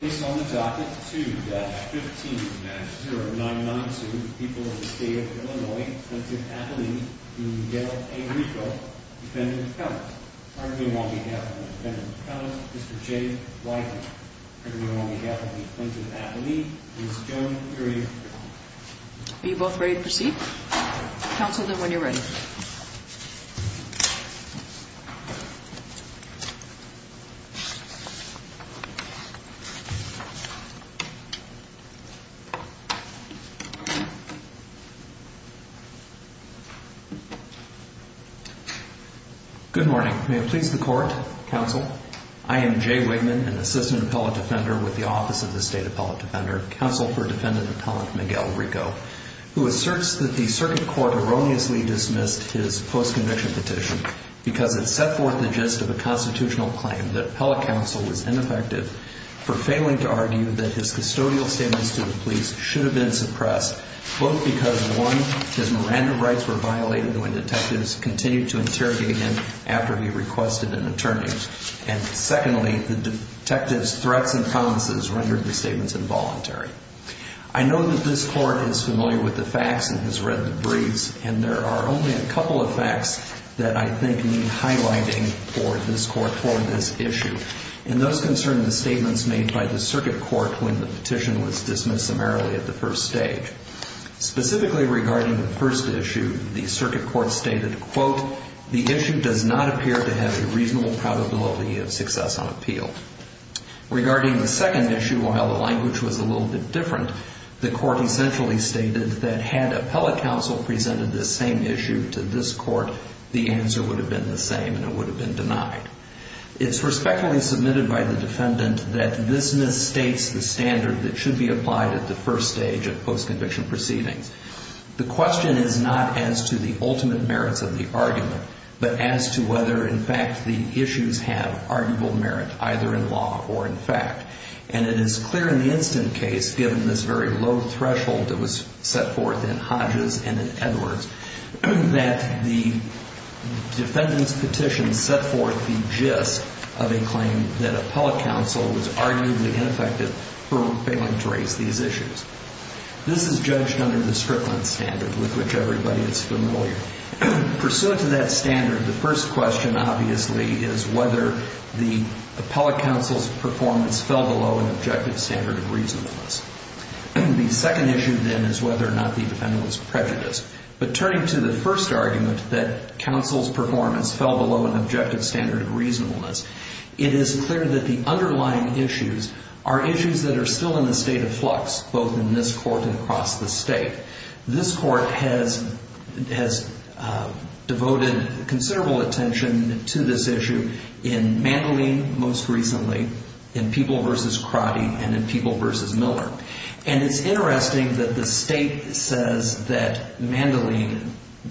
Based on the docket 2-15-0992, the people of the state of Illinois, Tlingit-Apaleen, and Yale v. Rico, Defendant McConnell. Argument on behalf of the Defendant McConnell, Mr. J. Whiteman. Argument on behalf of the Tlingit-Apaleen, Ms. Joan Urie. Are you both ready to proceed? Counsel them when you're ready. Good morning, may it please the Court, Counsel. I am J. Whiteman, an Assistant Appellate Defender with the Office of the State Appellate Defender, Counsel for Defendant Appellant Miguel Rico, who asserts that the circuit court erroneously dismissed his post-conviction petition because it set forth the gist of a constitutional claim that appellate counsel was ineffective for failing to argue that his custodial statements to the police should have been suppressed, both because, one, his Miranda rights were violated when detectives continued to interrogate him after he requested an attorney, and secondly, the detectives' threats and promises rendered the statements involuntary. I know that this Court is familiar with the facts and has read the briefs, and there are only a couple of facts that I think need highlighting for this Court, for this issue. And those concern the statements made by the circuit court when the petition was dismissed summarily at the first stage. Specifically regarding the first issue, the circuit court stated, quote, the issue does not appear to have a reasonable probability of success on appeal. Regarding the second issue, while the language was a little bit different, the court essentially stated that had appellate counsel presented this same issue to this Court, the answer would have been the same, and it would have been denied. It's respectfully submitted by the defendant that this misstates the standard that should be applied at the first stage of post-conviction proceedings. The question is not as to the ultimate merits of the argument, but as to whether, in fact, the issues have arguable merit, either in law or in fact. And it is clear in the instant case, given this very low threshold that was set forth in Hodges and in Edwards, that the defendant's petition set forth the gist of a claim that appellate counsel was arguably ineffective for failing to raise these issues. This is judged under the Strickland standard, with which everybody is familiar. Pursuant to that standard, the first question, obviously, is whether the appellate counsel's performance fell below an objective standard of reasonableness. The second issue, then, is whether or not the defendant was prejudiced. But turning to the first argument, that counsel's performance fell below an objective standard of reasonableness, it is clear that the underlying issues are issues that are still in the state of flux, both in this Court and across the State. This Court has devoted considerable attention to this issue in Mandoline most recently, in People v. Crotty, and in People v. Miller. And it's interesting that the State says that Mandoline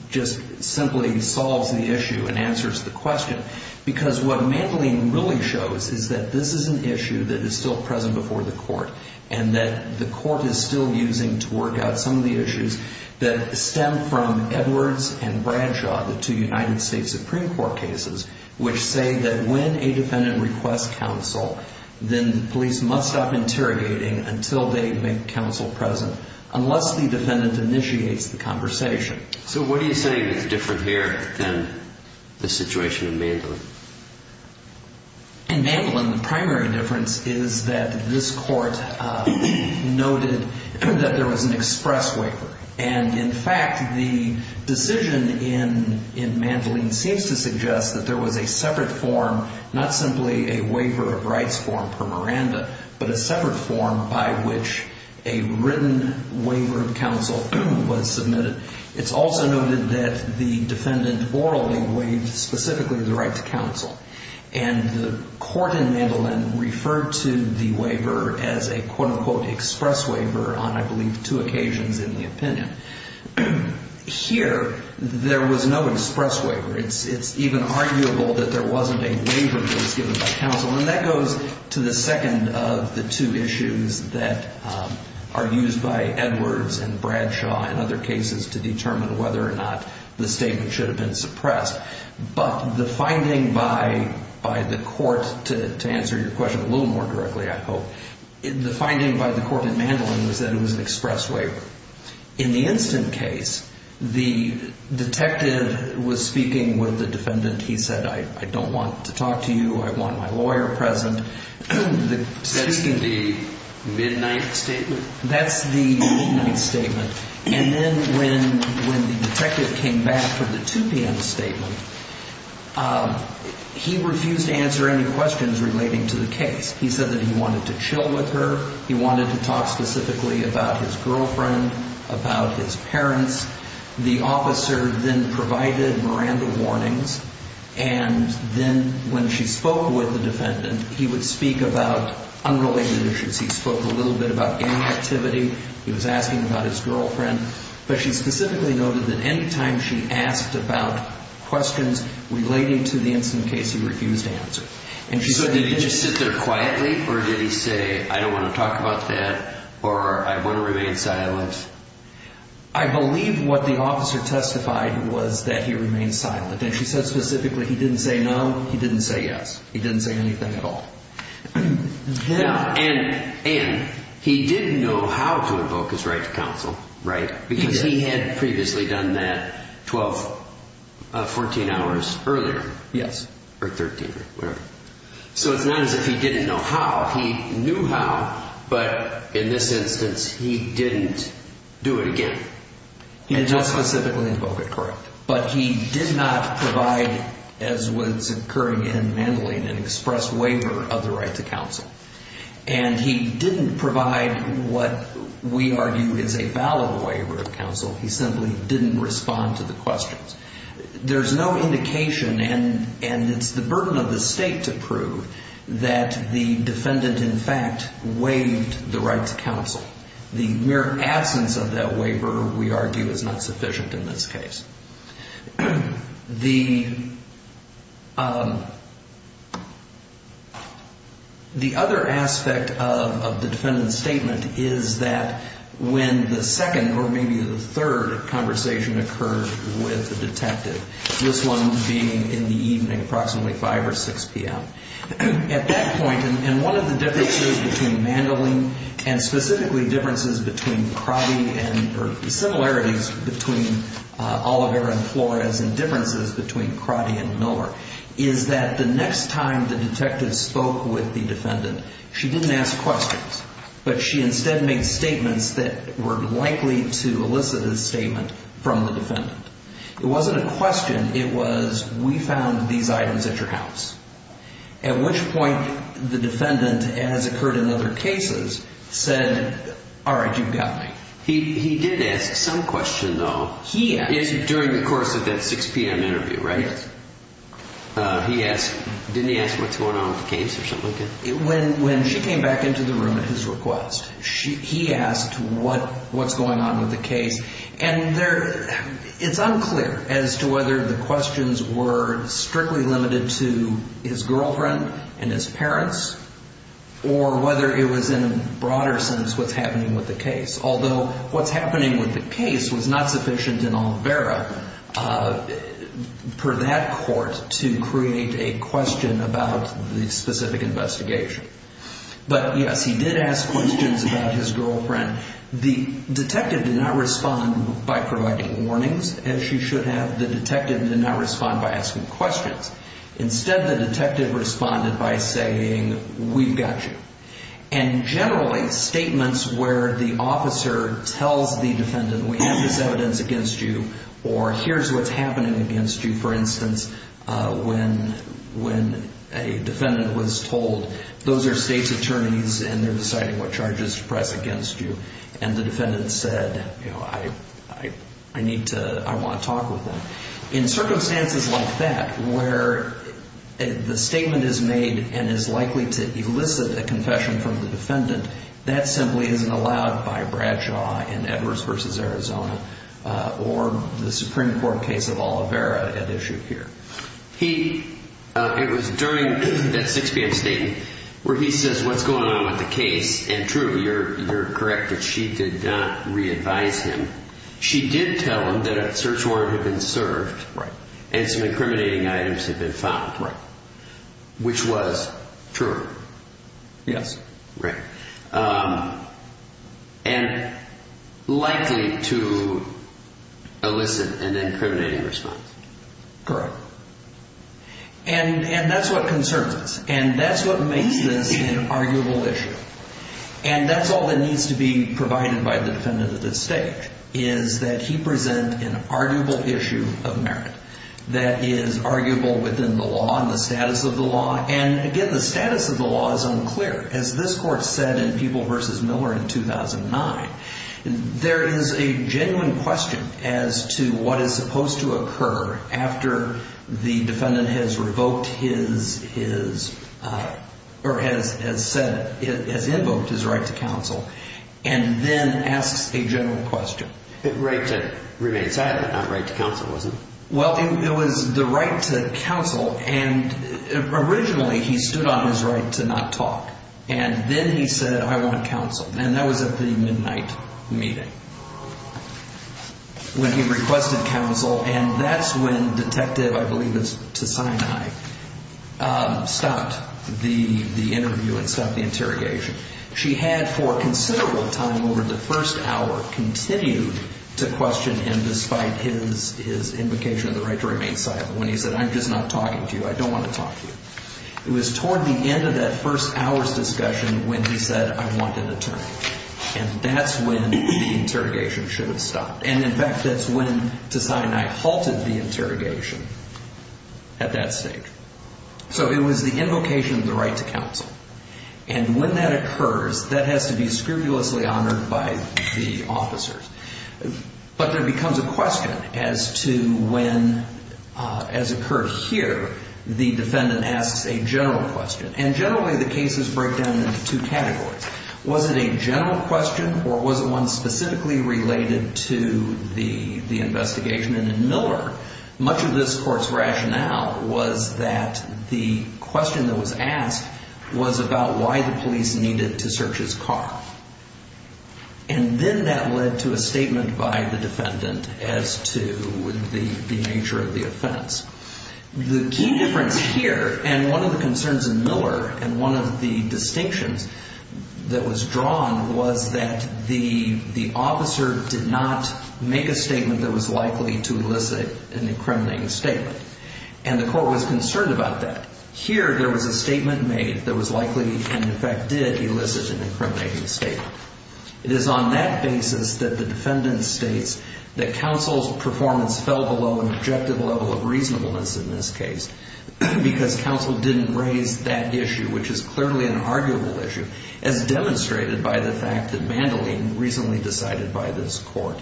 just simply solves the issue and answers the question, because what Mandoline really shows is that this is an issue that is still present before the Court, and that the Court is still using to work out some of the issues that stem from Edwards and Bradshaw, the two United States Supreme Court cases, which say that when a defendant requests counsel, then the police must stop interrogating until they make counsel present, unless the defendant initiates the conversation. So what do you say is different here than the situation in Mandoline? In Mandoline, the primary difference is that this Court noted that there was an express waiver. And in fact, the decision in Mandoline seems to suggest that there was a separate form, not simply a waiver of rights form per Miranda, but a separate form by which a written waiver of counsel was submitted. It's also noted that the defendant orally waived specifically the right to counsel. And the Court in Mandoline referred to the waiver as a, quote-unquote, express waiver on, I believe, two occasions in the opinion. Here, there was no express waiver. It's even arguable that there wasn't a waiver that was given by counsel, and that goes to the second of the two issues that are used by Edwards and Bradshaw in other cases to determine whether or not the statement should have been suppressed. But the finding by the Court, to answer your question a little more directly, I hope, the defendant said it was an express waiver. In the instant case, the detective was speaking with the defendant. He said, I don't want to talk to you. I want my lawyer present. The statement... Excuse me. The midnight statement? That's the midnight statement. And then when the detective came back for the 2 p.m. statement, he refused to answer any questions relating to the case. He said that he wanted to chill with her. He wanted to talk specifically about his girlfriend, about his parents. The officer then provided Miranda warnings, and then when she spoke with the defendant, he would speak about unrelated issues. He spoke a little bit about gang activity. He was asking about his girlfriend. But she specifically noted that any time she asked about questions relating to the instant case, he refused to answer. And she said... I don't want to talk about that, or I want to remain silent. I believe what the officer testified was that he remained silent, and she said specifically he didn't say no, he didn't say yes. He didn't say anything at all. And he didn't know how to invoke his right to counsel, right? Because he had previously done that 12, 14 hours earlier. Yes. Or 13, whatever. So it's not as if he didn't know how, he knew how, but in this instance, he didn't do it again. He did not specifically invoke it, correct. But he did not provide, as was occurring in Mandalay, an express waiver of the right to counsel. And he didn't provide what we argue is a valid waiver of counsel. He simply didn't respond to the questions. There's no indication, and it's the burden of the state to prove, that the defendant in fact waived the right to counsel. The mere absence of that waiver, we argue, is not sufficient in this case. The other aspect of the defendant's statement is that when the second or maybe the third conversation occurred with the detective, this one being in the evening, approximately 5 or 6 p.m., at that point, and one of the differences between Mandalay, and specifically differences between Crotty and, or similarities between Oliver and Flores, and differences between Crotty and Miller, is that the next time the detective spoke with the defendant, she didn't ask questions. But she instead made statements that were likely to elicit a statement from the defendant. It wasn't a question. It was, we found these items at your house. At which point, the defendant, as occurred in other cases, said, all right, you've got me. He did ask some question, though. He asked. During the course of that 6 p.m. interview, right? Yes. He asked, didn't he ask what's going on with the case or something like that? When she came back into the room at his request, he asked what's going on with the case. And it's unclear as to whether the questions were strictly limited to his girlfriend and his parents, or whether it was in a broader sense what's happening with the case. Although, what's happening with the case was not sufficient in Olvera, per that court, to create a question about the specific investigation. But yes, he did ask questions about his girlfriend. The detective did not respond by providing warnings, as you should have. The detective did not respond by asking questions. Instead, the detective responded by saying, we've got you. And generally, statements where the officer tells the defendant, we have this evidence against you, or here's what's happening against you, for instance, when a defendant was told those are state's attorneys, and they're deciding what charges to press against you. And the defendant said, you know, I need to, I want to talk with them. In circumstances like that, where the statement is made and is likely to elicit a confession from the defendant, that simply isn't allowed by Bradshaw in Edwards v. Arizona, or the Supreme Court case of Olvera at issue here. He, it was during that 6 p.m. statement, where he says what's going on with the case, and true, you're correct that she did not re-advise him. She did tell him that a search warrant had been served, and some incriminating items had been found, which was true. Yes. Right. And likely to elicit an incriminating response. Correct. And that's what concerns us, and that's what makes this an arguable issue. And that's all that needs to be provided by the defendant at this stage, is that he present an arguable issue of merit that is arguable within the law and the status of the law. And again, the status of the law is unclear. As this Court said in Peeble v. Miller in 2009, there is a genuine question as to what is supposed to occur after the defendant has revoked his, or has said, has invoked his right to counsel, and then asks a general question. The right to remain silent, not right to counsel, was it? Well, it was the right to counsel, and originally he stood on his right to not talk. And then he said, I want counsel. And that was at the midnight meeting, when he requested counsel. And that's when Detective, I believe it's to Sinai, stopped the interview and stopped the interrogation. She had, for considerable time over the first hour, continued to question him despite his invocation of the right to remain silent, when he said, I'm just not talking to you. I don't want to talk to you. It was toward the end of that first hour's discussion when he said, I want an attorney. And that's when the interrogation should have stopped. And in fact, that's when to Sinai halted the interrogation at that stage. So it was the invocation of the right to counsel. And when that occurs, that has to be scrupulously honored by the officers. But there becomes a question as to when, as occurred here, the defendant asks a general question. And generally, the cases break down into two categories. Was it a general question, or was it one specifically related to the investigation? And in Miller, much of this court's rationale was that the question that was asked was about why the police needed to search his car. And then that led to a statement by the defendant as to the nature of the offense. The key difference here, and one of the concerns in Miller, and one of the distinctions that was drawn, was that the officer did not make a statement that was likely to elicit an incriminating statement. And the court was concerned about that. Here, there was a statement made that was likely, and in fact did, elicit an incriminating statement. It is on that basis that the defendant states that counsel's performance fell below an objective level of reasonableness in this case, because counsel didn't raise that issue, which is clearly an arguable issue, as demonstrated by the fact that Mandoline, recently decided by this court,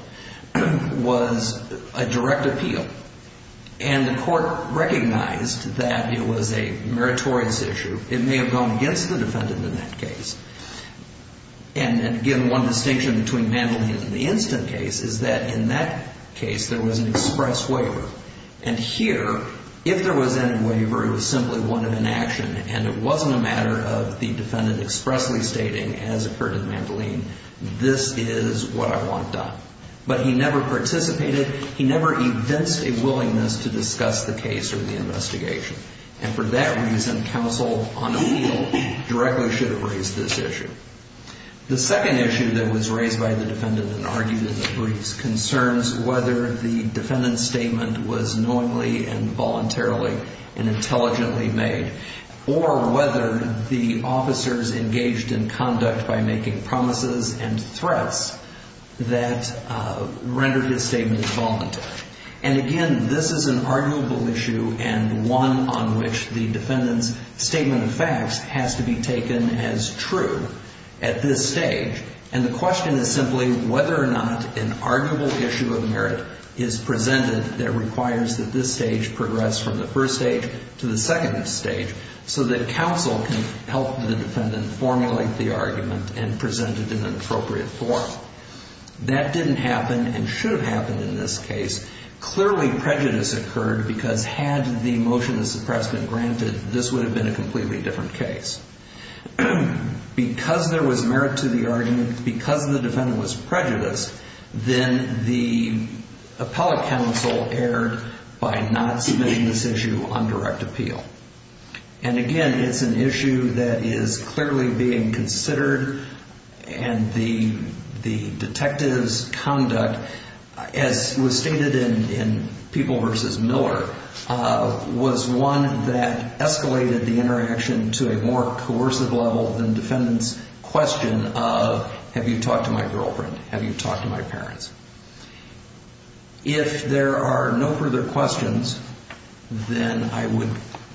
was a direct appeal. And the court recognized that it was a meritorious issue. It may have gone against the defendant in that case. And again, one distinction between Mandoline and the instant case is that in that case, there was an express waiver. And here, if there was any waiver, it was simply one of inaction, and it wasn't a matter of the defendant expressly stating, as occurred in Mandoline, this is what I want done. But he never participated. He never evinced a willingness to discuss the case or the investigation. And for that reason, counsel, on appeal, directly should have raised this issue. The second issue that was raised by the defendant and argued in the briefs concerns whether the defendant's statement was knowingly and voluntarily and intelligently made, or whether the officers engaged in conduct by making promises and threats that rendered his statement voluntary. And again, this is an arguable issue and one on which the defendant's statement of facts has to be taken as true at this stage. And the question is simply whether or not an arguable issue of merit is presented that requires that this stage progress from the first stage to the second stage so that counsel can help the defendant formulate the argument and present it in an appropriate form. That didn't happen and should have happened in this case. Clearly, prejudice occurred because had the motion of suppress been granted, this would have been a completely different case. Because there was merit to the argument, because the defendant was prejudiced, then the appellate counsel erred by not submitting this issue on direct appeal. And again, it's an issue that is clearly being considered. And the detective's conduct, as was stated in People v. Miller, was one that escalated the interaction to a more coercive level than the defendant's question of, have you talked to my girlfriend? Have you talked to my parents? If there are no further questions, then I would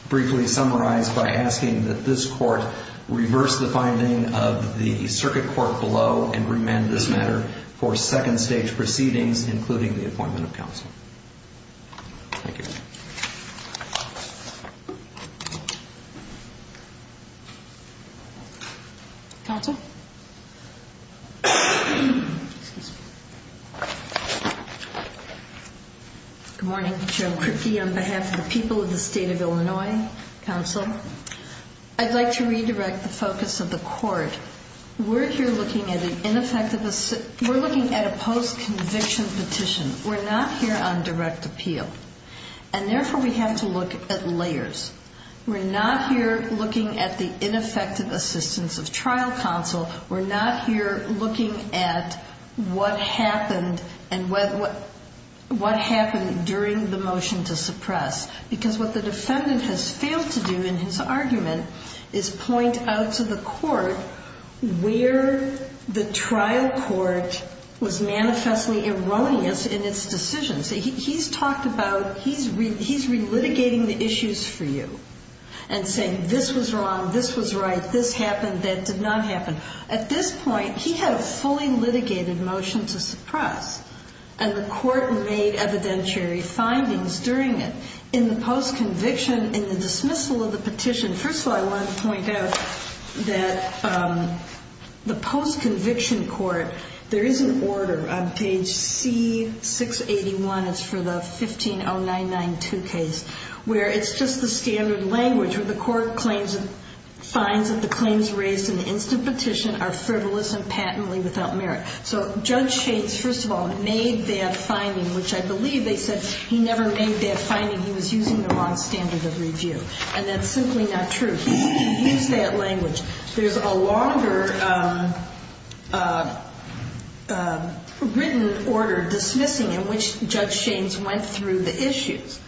briefly summarize by asking that this court reverse the finding of the circuit court below and remand this matter for second stage proceedings, including the appointment of counsel. Thank you. Counsel? Good morning. Joan Kripke on behalf of the people of the state of Illinois. Counsel, I'd like to redirect the focus of the court. We're here looking at a post-conviction petition. We're not here on direct appeal. And therefore, we have to look at layers. We're not here looking at the ineffective assistance of trial counsel. We're not here looking at what happened and what happened during the motion to suppress. Because what the defendant has failed to do in his argument is point out to the court where the trial court was manifestly erroneous in its decision. He's talked about he's relitigating the issues for you and saying this was wrong, this was right, this happened, that did not happen. At this point, he had a fully litigated motion to suppress, and the court made evidentiary findings during it. In the post-conviction, in the dismissal of the petition, first of all, I wanted to point out that the post-conviction court, there is an order on page C681, it's for the 150992 case, where it's just the standard language. The court finds that the claims raised in the instant petition are frivolous and patently without merit. So Judge Shates, first of all, made that finding, which I believe they said he never made that finding. He was using the wrong standard of review. And that's simply not true. He used that language. There's a longer written order dismissing in which Judge Shates went through the issues.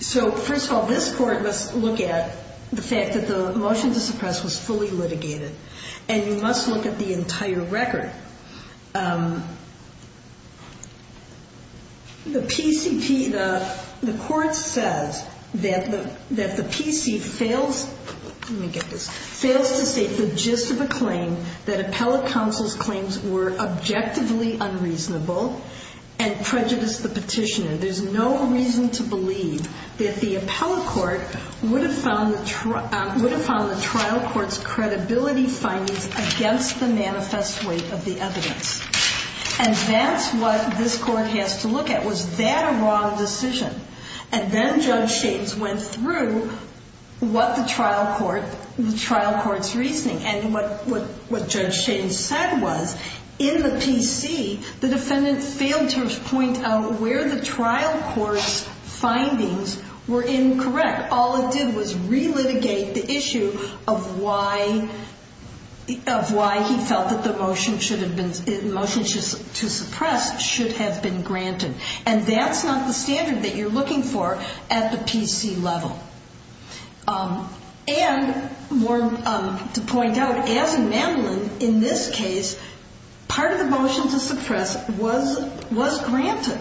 So, first of all, this court must look at the fact that the motion to suppress was fully litigated. And you must look at the entire record. The PCP, the court says that the PC fails, let me get this, fails to state the gist of a claim that appellate counsel's claims were objectively unreasonable and prejudiced the petitioner. There's no reason to believe that the appellate court would have found the trial court's credibility findings against the manifest weight of the evidence. And that's what this court has to look at. Was that a wrong decision? And then Judge Shates went through what the trial court, the trial court's reasoning. And what Judge Shates said was, in the PC, the defendant failed to point out where the trial court's findings were incorrect. All it did was re-litigate the issue of why he felt that the motion to suppress should have been granted. And that's not the standard that you're looking for at the PC level. And more to point out, as in Mandolin, in this case, part of the motion to suppress was granted.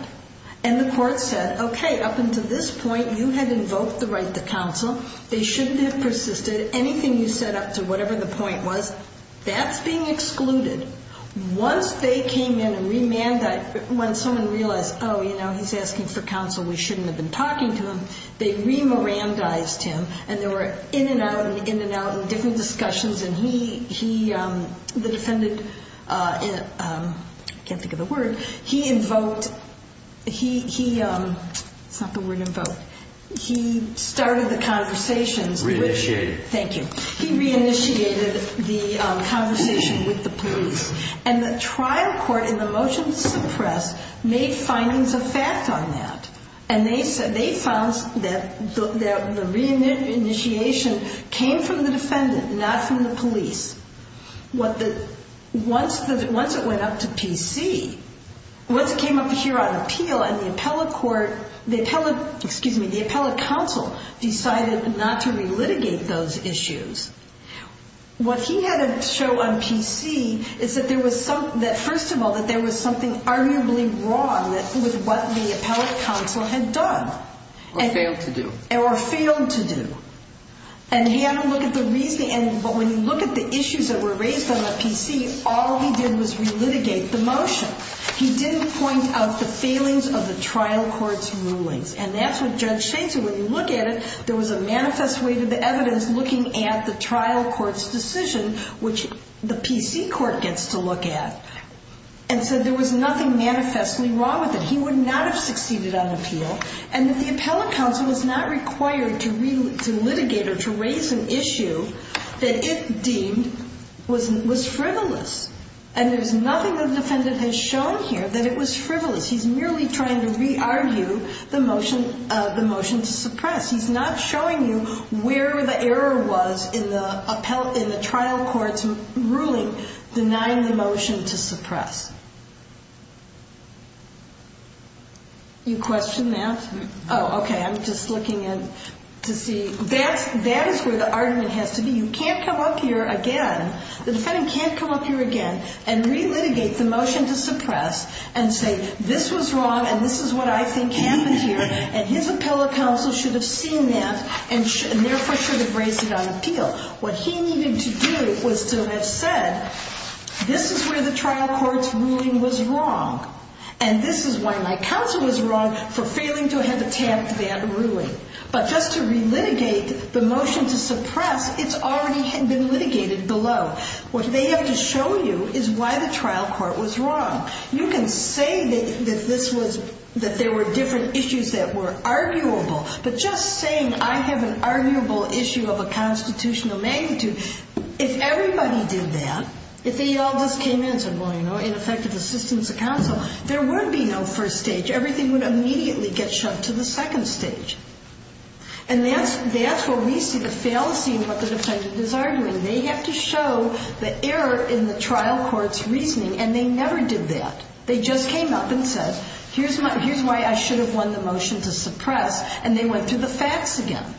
And the court said, okay, up until this point, you had invoked the right to counsel. They shouldn't have persisted. Anything you set up to whatever the point was, that's being excluded. Once they came in and remanded, when someone realized, oh, you know, he's asking for counsel, we shouldn't have been talking to him, they remorandized him. And there were in and out and in and out and different discussions. And he, the defendant, can't think of the word, he invoked, he, it's not the word invoked, he started the conversations. Re-initiated. Thank you. He re-initiated the conversation with the police. And the trial court in the motion to suppress made findings of fact on that. And they found that the re-initiation came from the defendant, not from the police. Once it went up to PC, once it came up here on appeal and the appellate court, the appellate, excuse me, the appellate counsel decided not to re-litigate those issues, what he had to show on PC is that there was some, that first of all, that there was something arguably wrong with what the appellate counsel had done. Or failed to do. Or failed to do. And he had to look at the reasoning. But when you look at the issues that were raised on the PC, all he did was re-litigate the motion. He didn't point out the failings of the trial court's rulings. And that's what Judge Shain said. When you look at it, there was a manifest way to the evidence looking at the trial court's decision, which the PC court gets to look at. And so there was nothing manifestly wrong with it. He would not have succeeded on appeal. And that the appellate counsel was not required to re-litigate or to raise an issue that it deemed was frivolous. And there's nothing the defendant has shown here that it was frivolous. He's merely trying to re-argue the motion to suppress. He's not showing you where the error was in the trial court's ruling denying the motion to suppress. You question that? Oh, okay. I'm just looking to see. That is where the argument has to be. You can't come up here again. The defendant can't come up here again and re-litigate the motion to suppress and say this was wrong and this is what I think happened here. And his appellate counsel should have seen that and therefore should have raised it on appeal. What he needed to do was to have said this is where the trial court's ruling was wrong and this is why my counsel was wrong for failing to have a tamped-down ruling. But just to re-litigate the motion to suppress, it's already been litigated below. What they have to show you is why the trial court was wrong. You can say that this was – that there were different issues that were arguable, but just saying I have an arguable issue of a constitutional magnitude, if everybody did that, if they all just came in and said, well, you know, ineffective assistance of counsel, there would be no first stage. Everything would immediately get shoved to the second stage. And that's where we see the fallacy in what the defendant is arguing. They have to show the error in the trial court's reasoning, and they never did that. They just came up and said, here's why I should have won the motion to suppress, and they went through the facts again.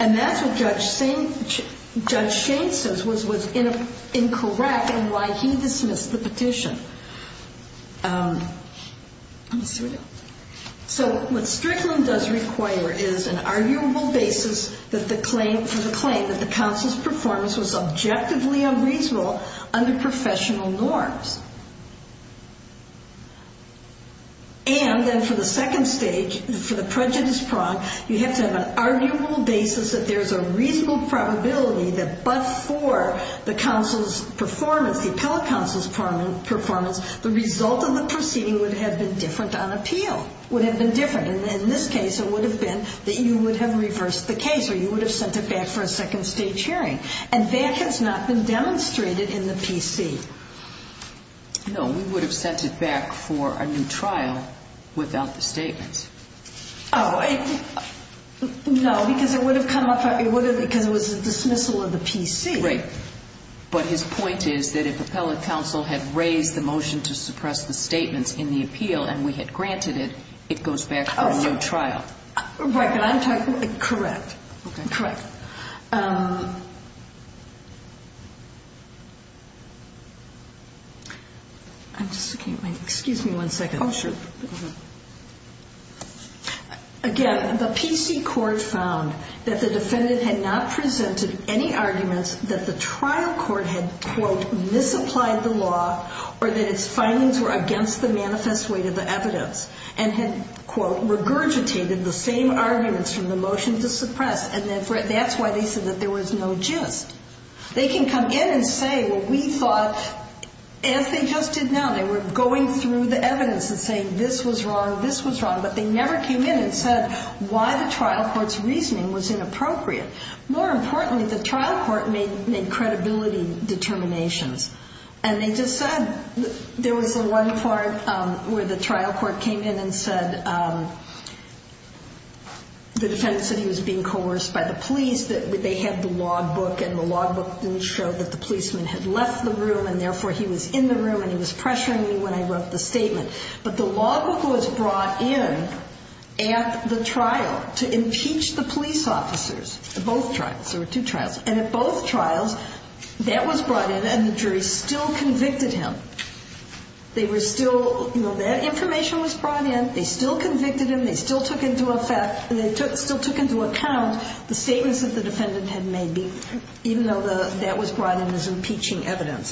And that's what Judge Shane says was incorrect and why he dismissed the petition. So what Strickland does require is an arguable basis for the claim that the counsel's performance was objectively unreasonable under professional norms. And then for the second stage, for the prejudice prong, you have to have an arguable basis that there's a reasonable probability that but for the counsel's performance, the appellate counsel's performance, the result of the proceeding would have been different on appeal, would have been different. And in this case, it would have been that you would have reversed the case or you would have sent it back for a second stage hearing. And that has not been demonstrated in the PC. No, we would have sent it back for a new trial without the statements. Oh, no, because it would have come up because it was a dismissal of the PC. Right. But his point is that if appellate counsel had raised the motion to suppress the statements in the appeal and we had granted it, it goes back for a new trial. Right. Can I talk? Correct. Okay. Correct. Excuse me one second. Oh, sure. Again, the PC court found that the defendant had not presented any arguments that the trial court had, quote, misapplied the law or that its findings were against the manifest weight of the evidence and had, quote, regurgitated the same arguments from the motion to suppress. And that's why they said that there was no gist. They can come in and say, well, we thought, as they just did now, they were going through the evidence and saying this was wrong, this was wrong, but they never came in and said why the trial court's reasoning was inappropriate. More importantly, the trial court made credibility determinations. And they just said there was one part where the trial court came in and said the defendant said he was being coerced by the police, that they had the law book and the law book didn't show that the policeman had left the room and therefore he was in the room and he was pressuring me when I wrote the statement. But the law book was brought in at the trial to impeach the police officers, both trials. There were two trials. And at both trials, that was brought in and the jury still convicted him. They were still, you know, that information was brought in, they still convicted him, they still took into account the statements that the defendant had made, even though that was brought in as impeaching evidence.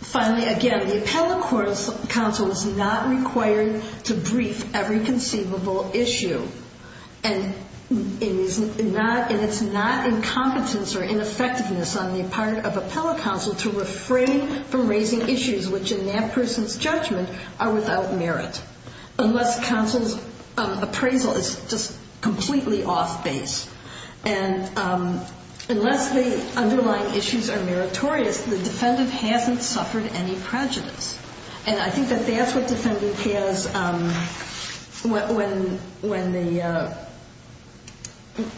Finally, again, the appellate court's counsel is not required to brief every conceivable issue. And it's not incompetence or ineffectiveness on the part of appellate counsel to refrain from raising issues which in that person's judgment are without merit. Unless counsel's appraisal is just completely off base. And unless the underlying issues are meritorious, the defendant hasn't suffered any prejudice. And I think that that's what defendant has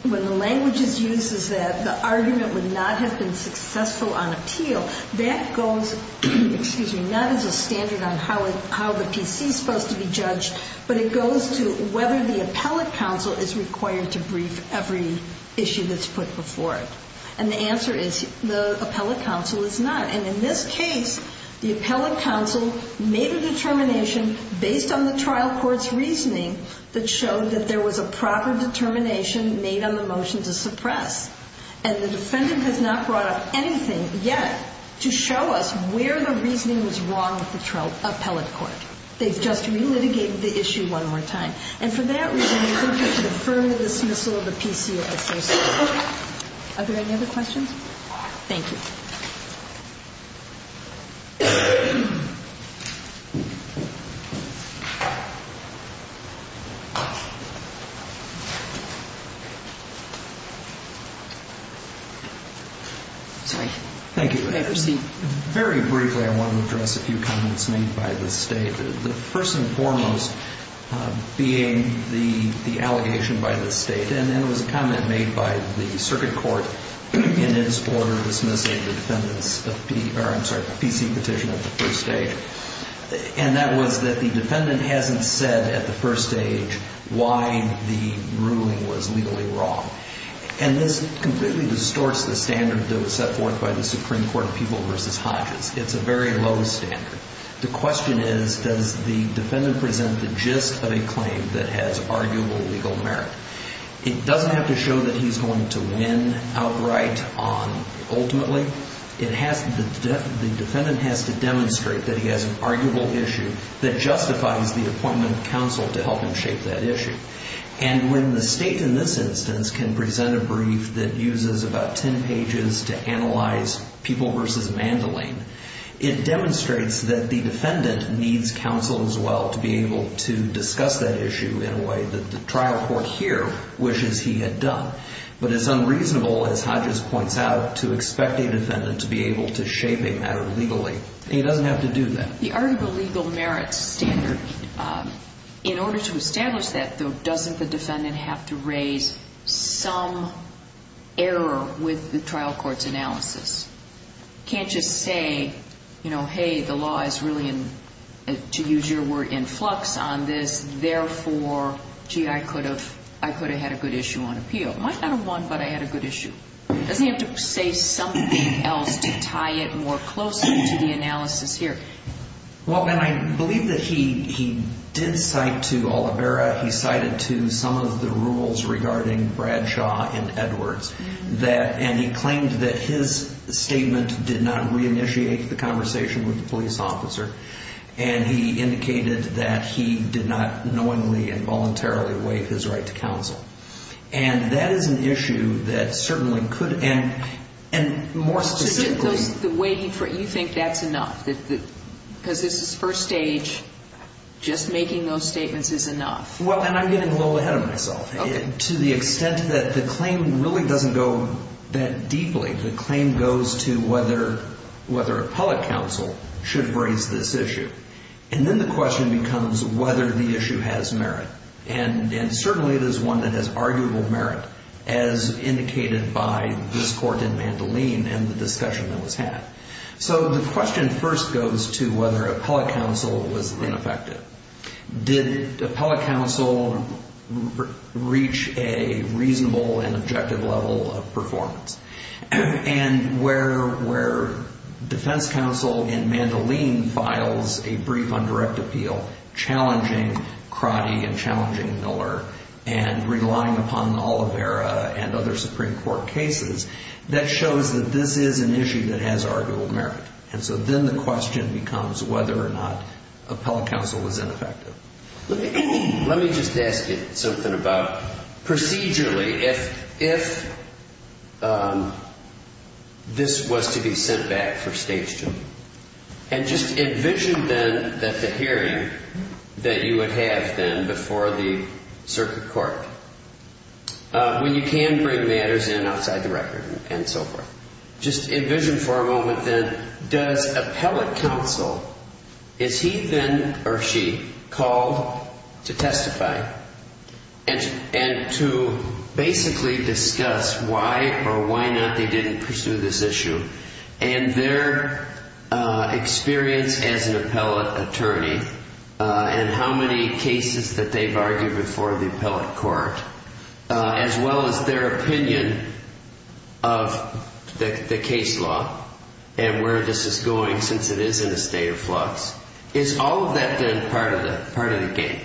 when the language is used is that the argument would not have been successful on appeal. That goes, excuse me, not as a standard on how the PC is supposed to be judged, but it goes to whether the appellate counsel is required to brief every issue that's put before it. And the answer is the appellate counsel is not. And in this case, the appellate counsel made a determination based on the trial court's reasoning that showed that there was a proper determination made on the motion to suppress. And the defendant has not brought up anything yet to show us where the reasoning was wrong with the appellate court. They've just re-litigated the issue one more time. And for that reason, they don't have to affirm the dismissal of the PC as they say. Are there any other questions? Thank you. Sorry. Thank you. May I proceed? Very briefly, I want to address a few comments made by the State. The first and foremost being the allegation by the State. And then there was a comment made by the circuit court in its order dismissing the I'm sorry, the PC petition at the first stage. And that was that the defendant hasn't said at the first stage why the ruling was legally wrong. And this completely distorts the standard that was set forth by the Supreme Court of People v. Hodges. It's a very low standard. The question is, does the defendant present the gist of a claim that has arguable legal merit? It doesn't have to show that he's going to win outright on ultimately. The defendant has to demonstrate that he has an arguable issue that justifies the appointment of counsel to help him shape that issue. And when the State in this instance can present a brief that uses about 10 pages to analyze People v. Mandoline, it demonstrates that the defendant needs counsel as well to be able to discuss that issue in a way that the trial court here wishes he had done. But it's unreasonable, as Hodges points out, to expect a defendant to be able to shape a matter legally. He doesn't have to do that. The arguable legal merit standard, in order to establish that, though, doesn't the defendant have to raise some error with the trial court's analysis? Can't just say, you know, hey, the law is really, to use your word, in flux on this. Therefore, gee, I could have had a good issue on appeal. I might not have won, but I had a good issue. Doesn't he have to say something else to tie it more closely to the analysis here? Well, and I believe that he did cite to Oliveira, he cited to some of the rules regarding Bradshaw and Edwards. And he claimed that his statement did not reinitiate the conversation with the police officer. And he indicated that he did not knowingly and voluntarily waive his right to counsel. And that is an issue that certainly could, and more specifically. So you think that's enough? Because this is first stage, just making those statements is enough? Well, and I'm getting a little ahead of myself. To the extent that the claim really doesn't go that deeply. The claim goes to whether appellate counsel should raise this issue. And then the question becomes whether the issue has merit. And certainly it is one that has arguable merit, as indicated by this court in Mandoline and the discussion that was had. So the question first goes to whether appellate counsel was ineffective. Did appellate counsel reach a reasonable and objective level of performance? And where defense counsel in Mandoline files a brief undirect appeal, challenging Crotty and challenging Miller, and relying upon Oliveira and other Supreme Court cases, that shows that this is an issue that has arguable merit. And so then the question becomes whether or not appellate counsel was ineffective. Let me just ask you something about procedurally, if this was to be sent back for stage two. And just envision then that the hearing that you would have then before the circuit court, when you can bring matters in outside the record and so forth. Just envision for a moment then, does appellate counsel, is he then or she called to testify? And to basically discuss why or why not they didn't pursue this issue. And their experience as an appellate attorney, and how many cases that they've argued before the appellate court. As well as their opinion of the case law. And where this is going since it is in a state of flux. Is all of that then part of the game?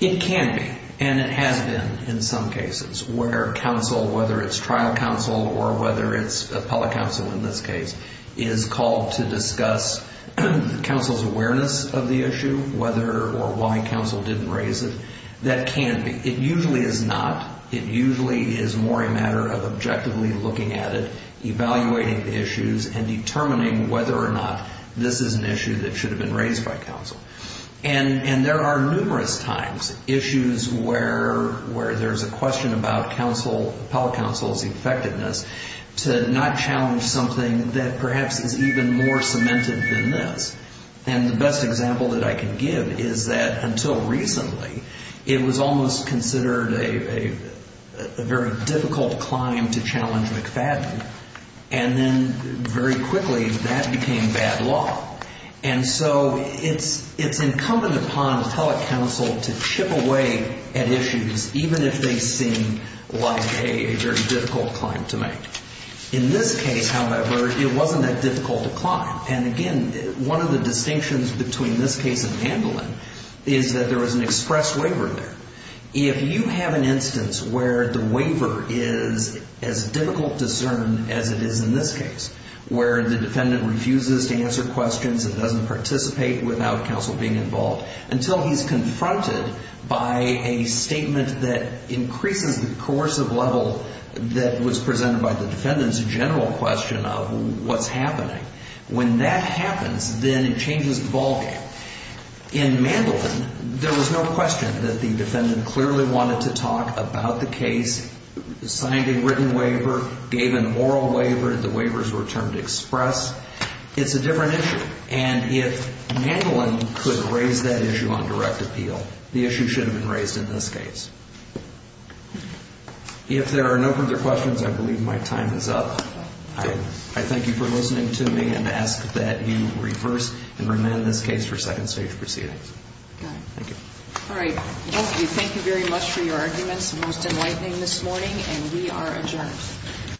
It can be. And it has been in some cases. Where counsel, whether it's trial counsel or whether it's appellate counsel in this case, is called to discuss counsel's awareness of the issue. Whether or why counsel didn't raise it. That can be. It usually is not. It usually is more a matter of objectively looking at it. Evaluating the issues and determining whether or not this is an issue that should have been raised by counsel. And there are numerous times issues where there's a question about counsel, appellate counsel's effectiveness to not challenge something that perhaps is even more cemented than this. And the best example that I can give is that until recently, it was almost considered a very difficult climb to challenge McFadden. And then very quickly that became bad law. And so it's incumbent upon appellate counsel to chip away at issues, even if they seem like a very difficult climb to make. In this case, however, it wasn't that difficult to climb. And again, one of the distinctions between this case and Mandolin is that there was an express waiver there. If you have an instance where the waiver is as difficult to discern as it is in this case, where the defendant refuses to answer questions and doesn't participate without counsel being involved, until he's confronted by a statement that increases the coercive level that was presented by the defendant's general question of what's happening. When that happens, then it changes the ballgame. In Mandolin, there was no question that the defendant clearly wanted to talk about the case, signed a written waiver, gave an oral waiver, the waivers were termed express. It's a different issue. And if Mandolin could raise that issue on direct appeal, the issue should have been raised in this case. If there are no further questions, I believe my time is up. I thank you for listening to me and ask that you reverse and amend this case for second stage proceedings. Thank you. All right. Thank you very much for your arguments. Most enlightening this morning, and we are adjourned.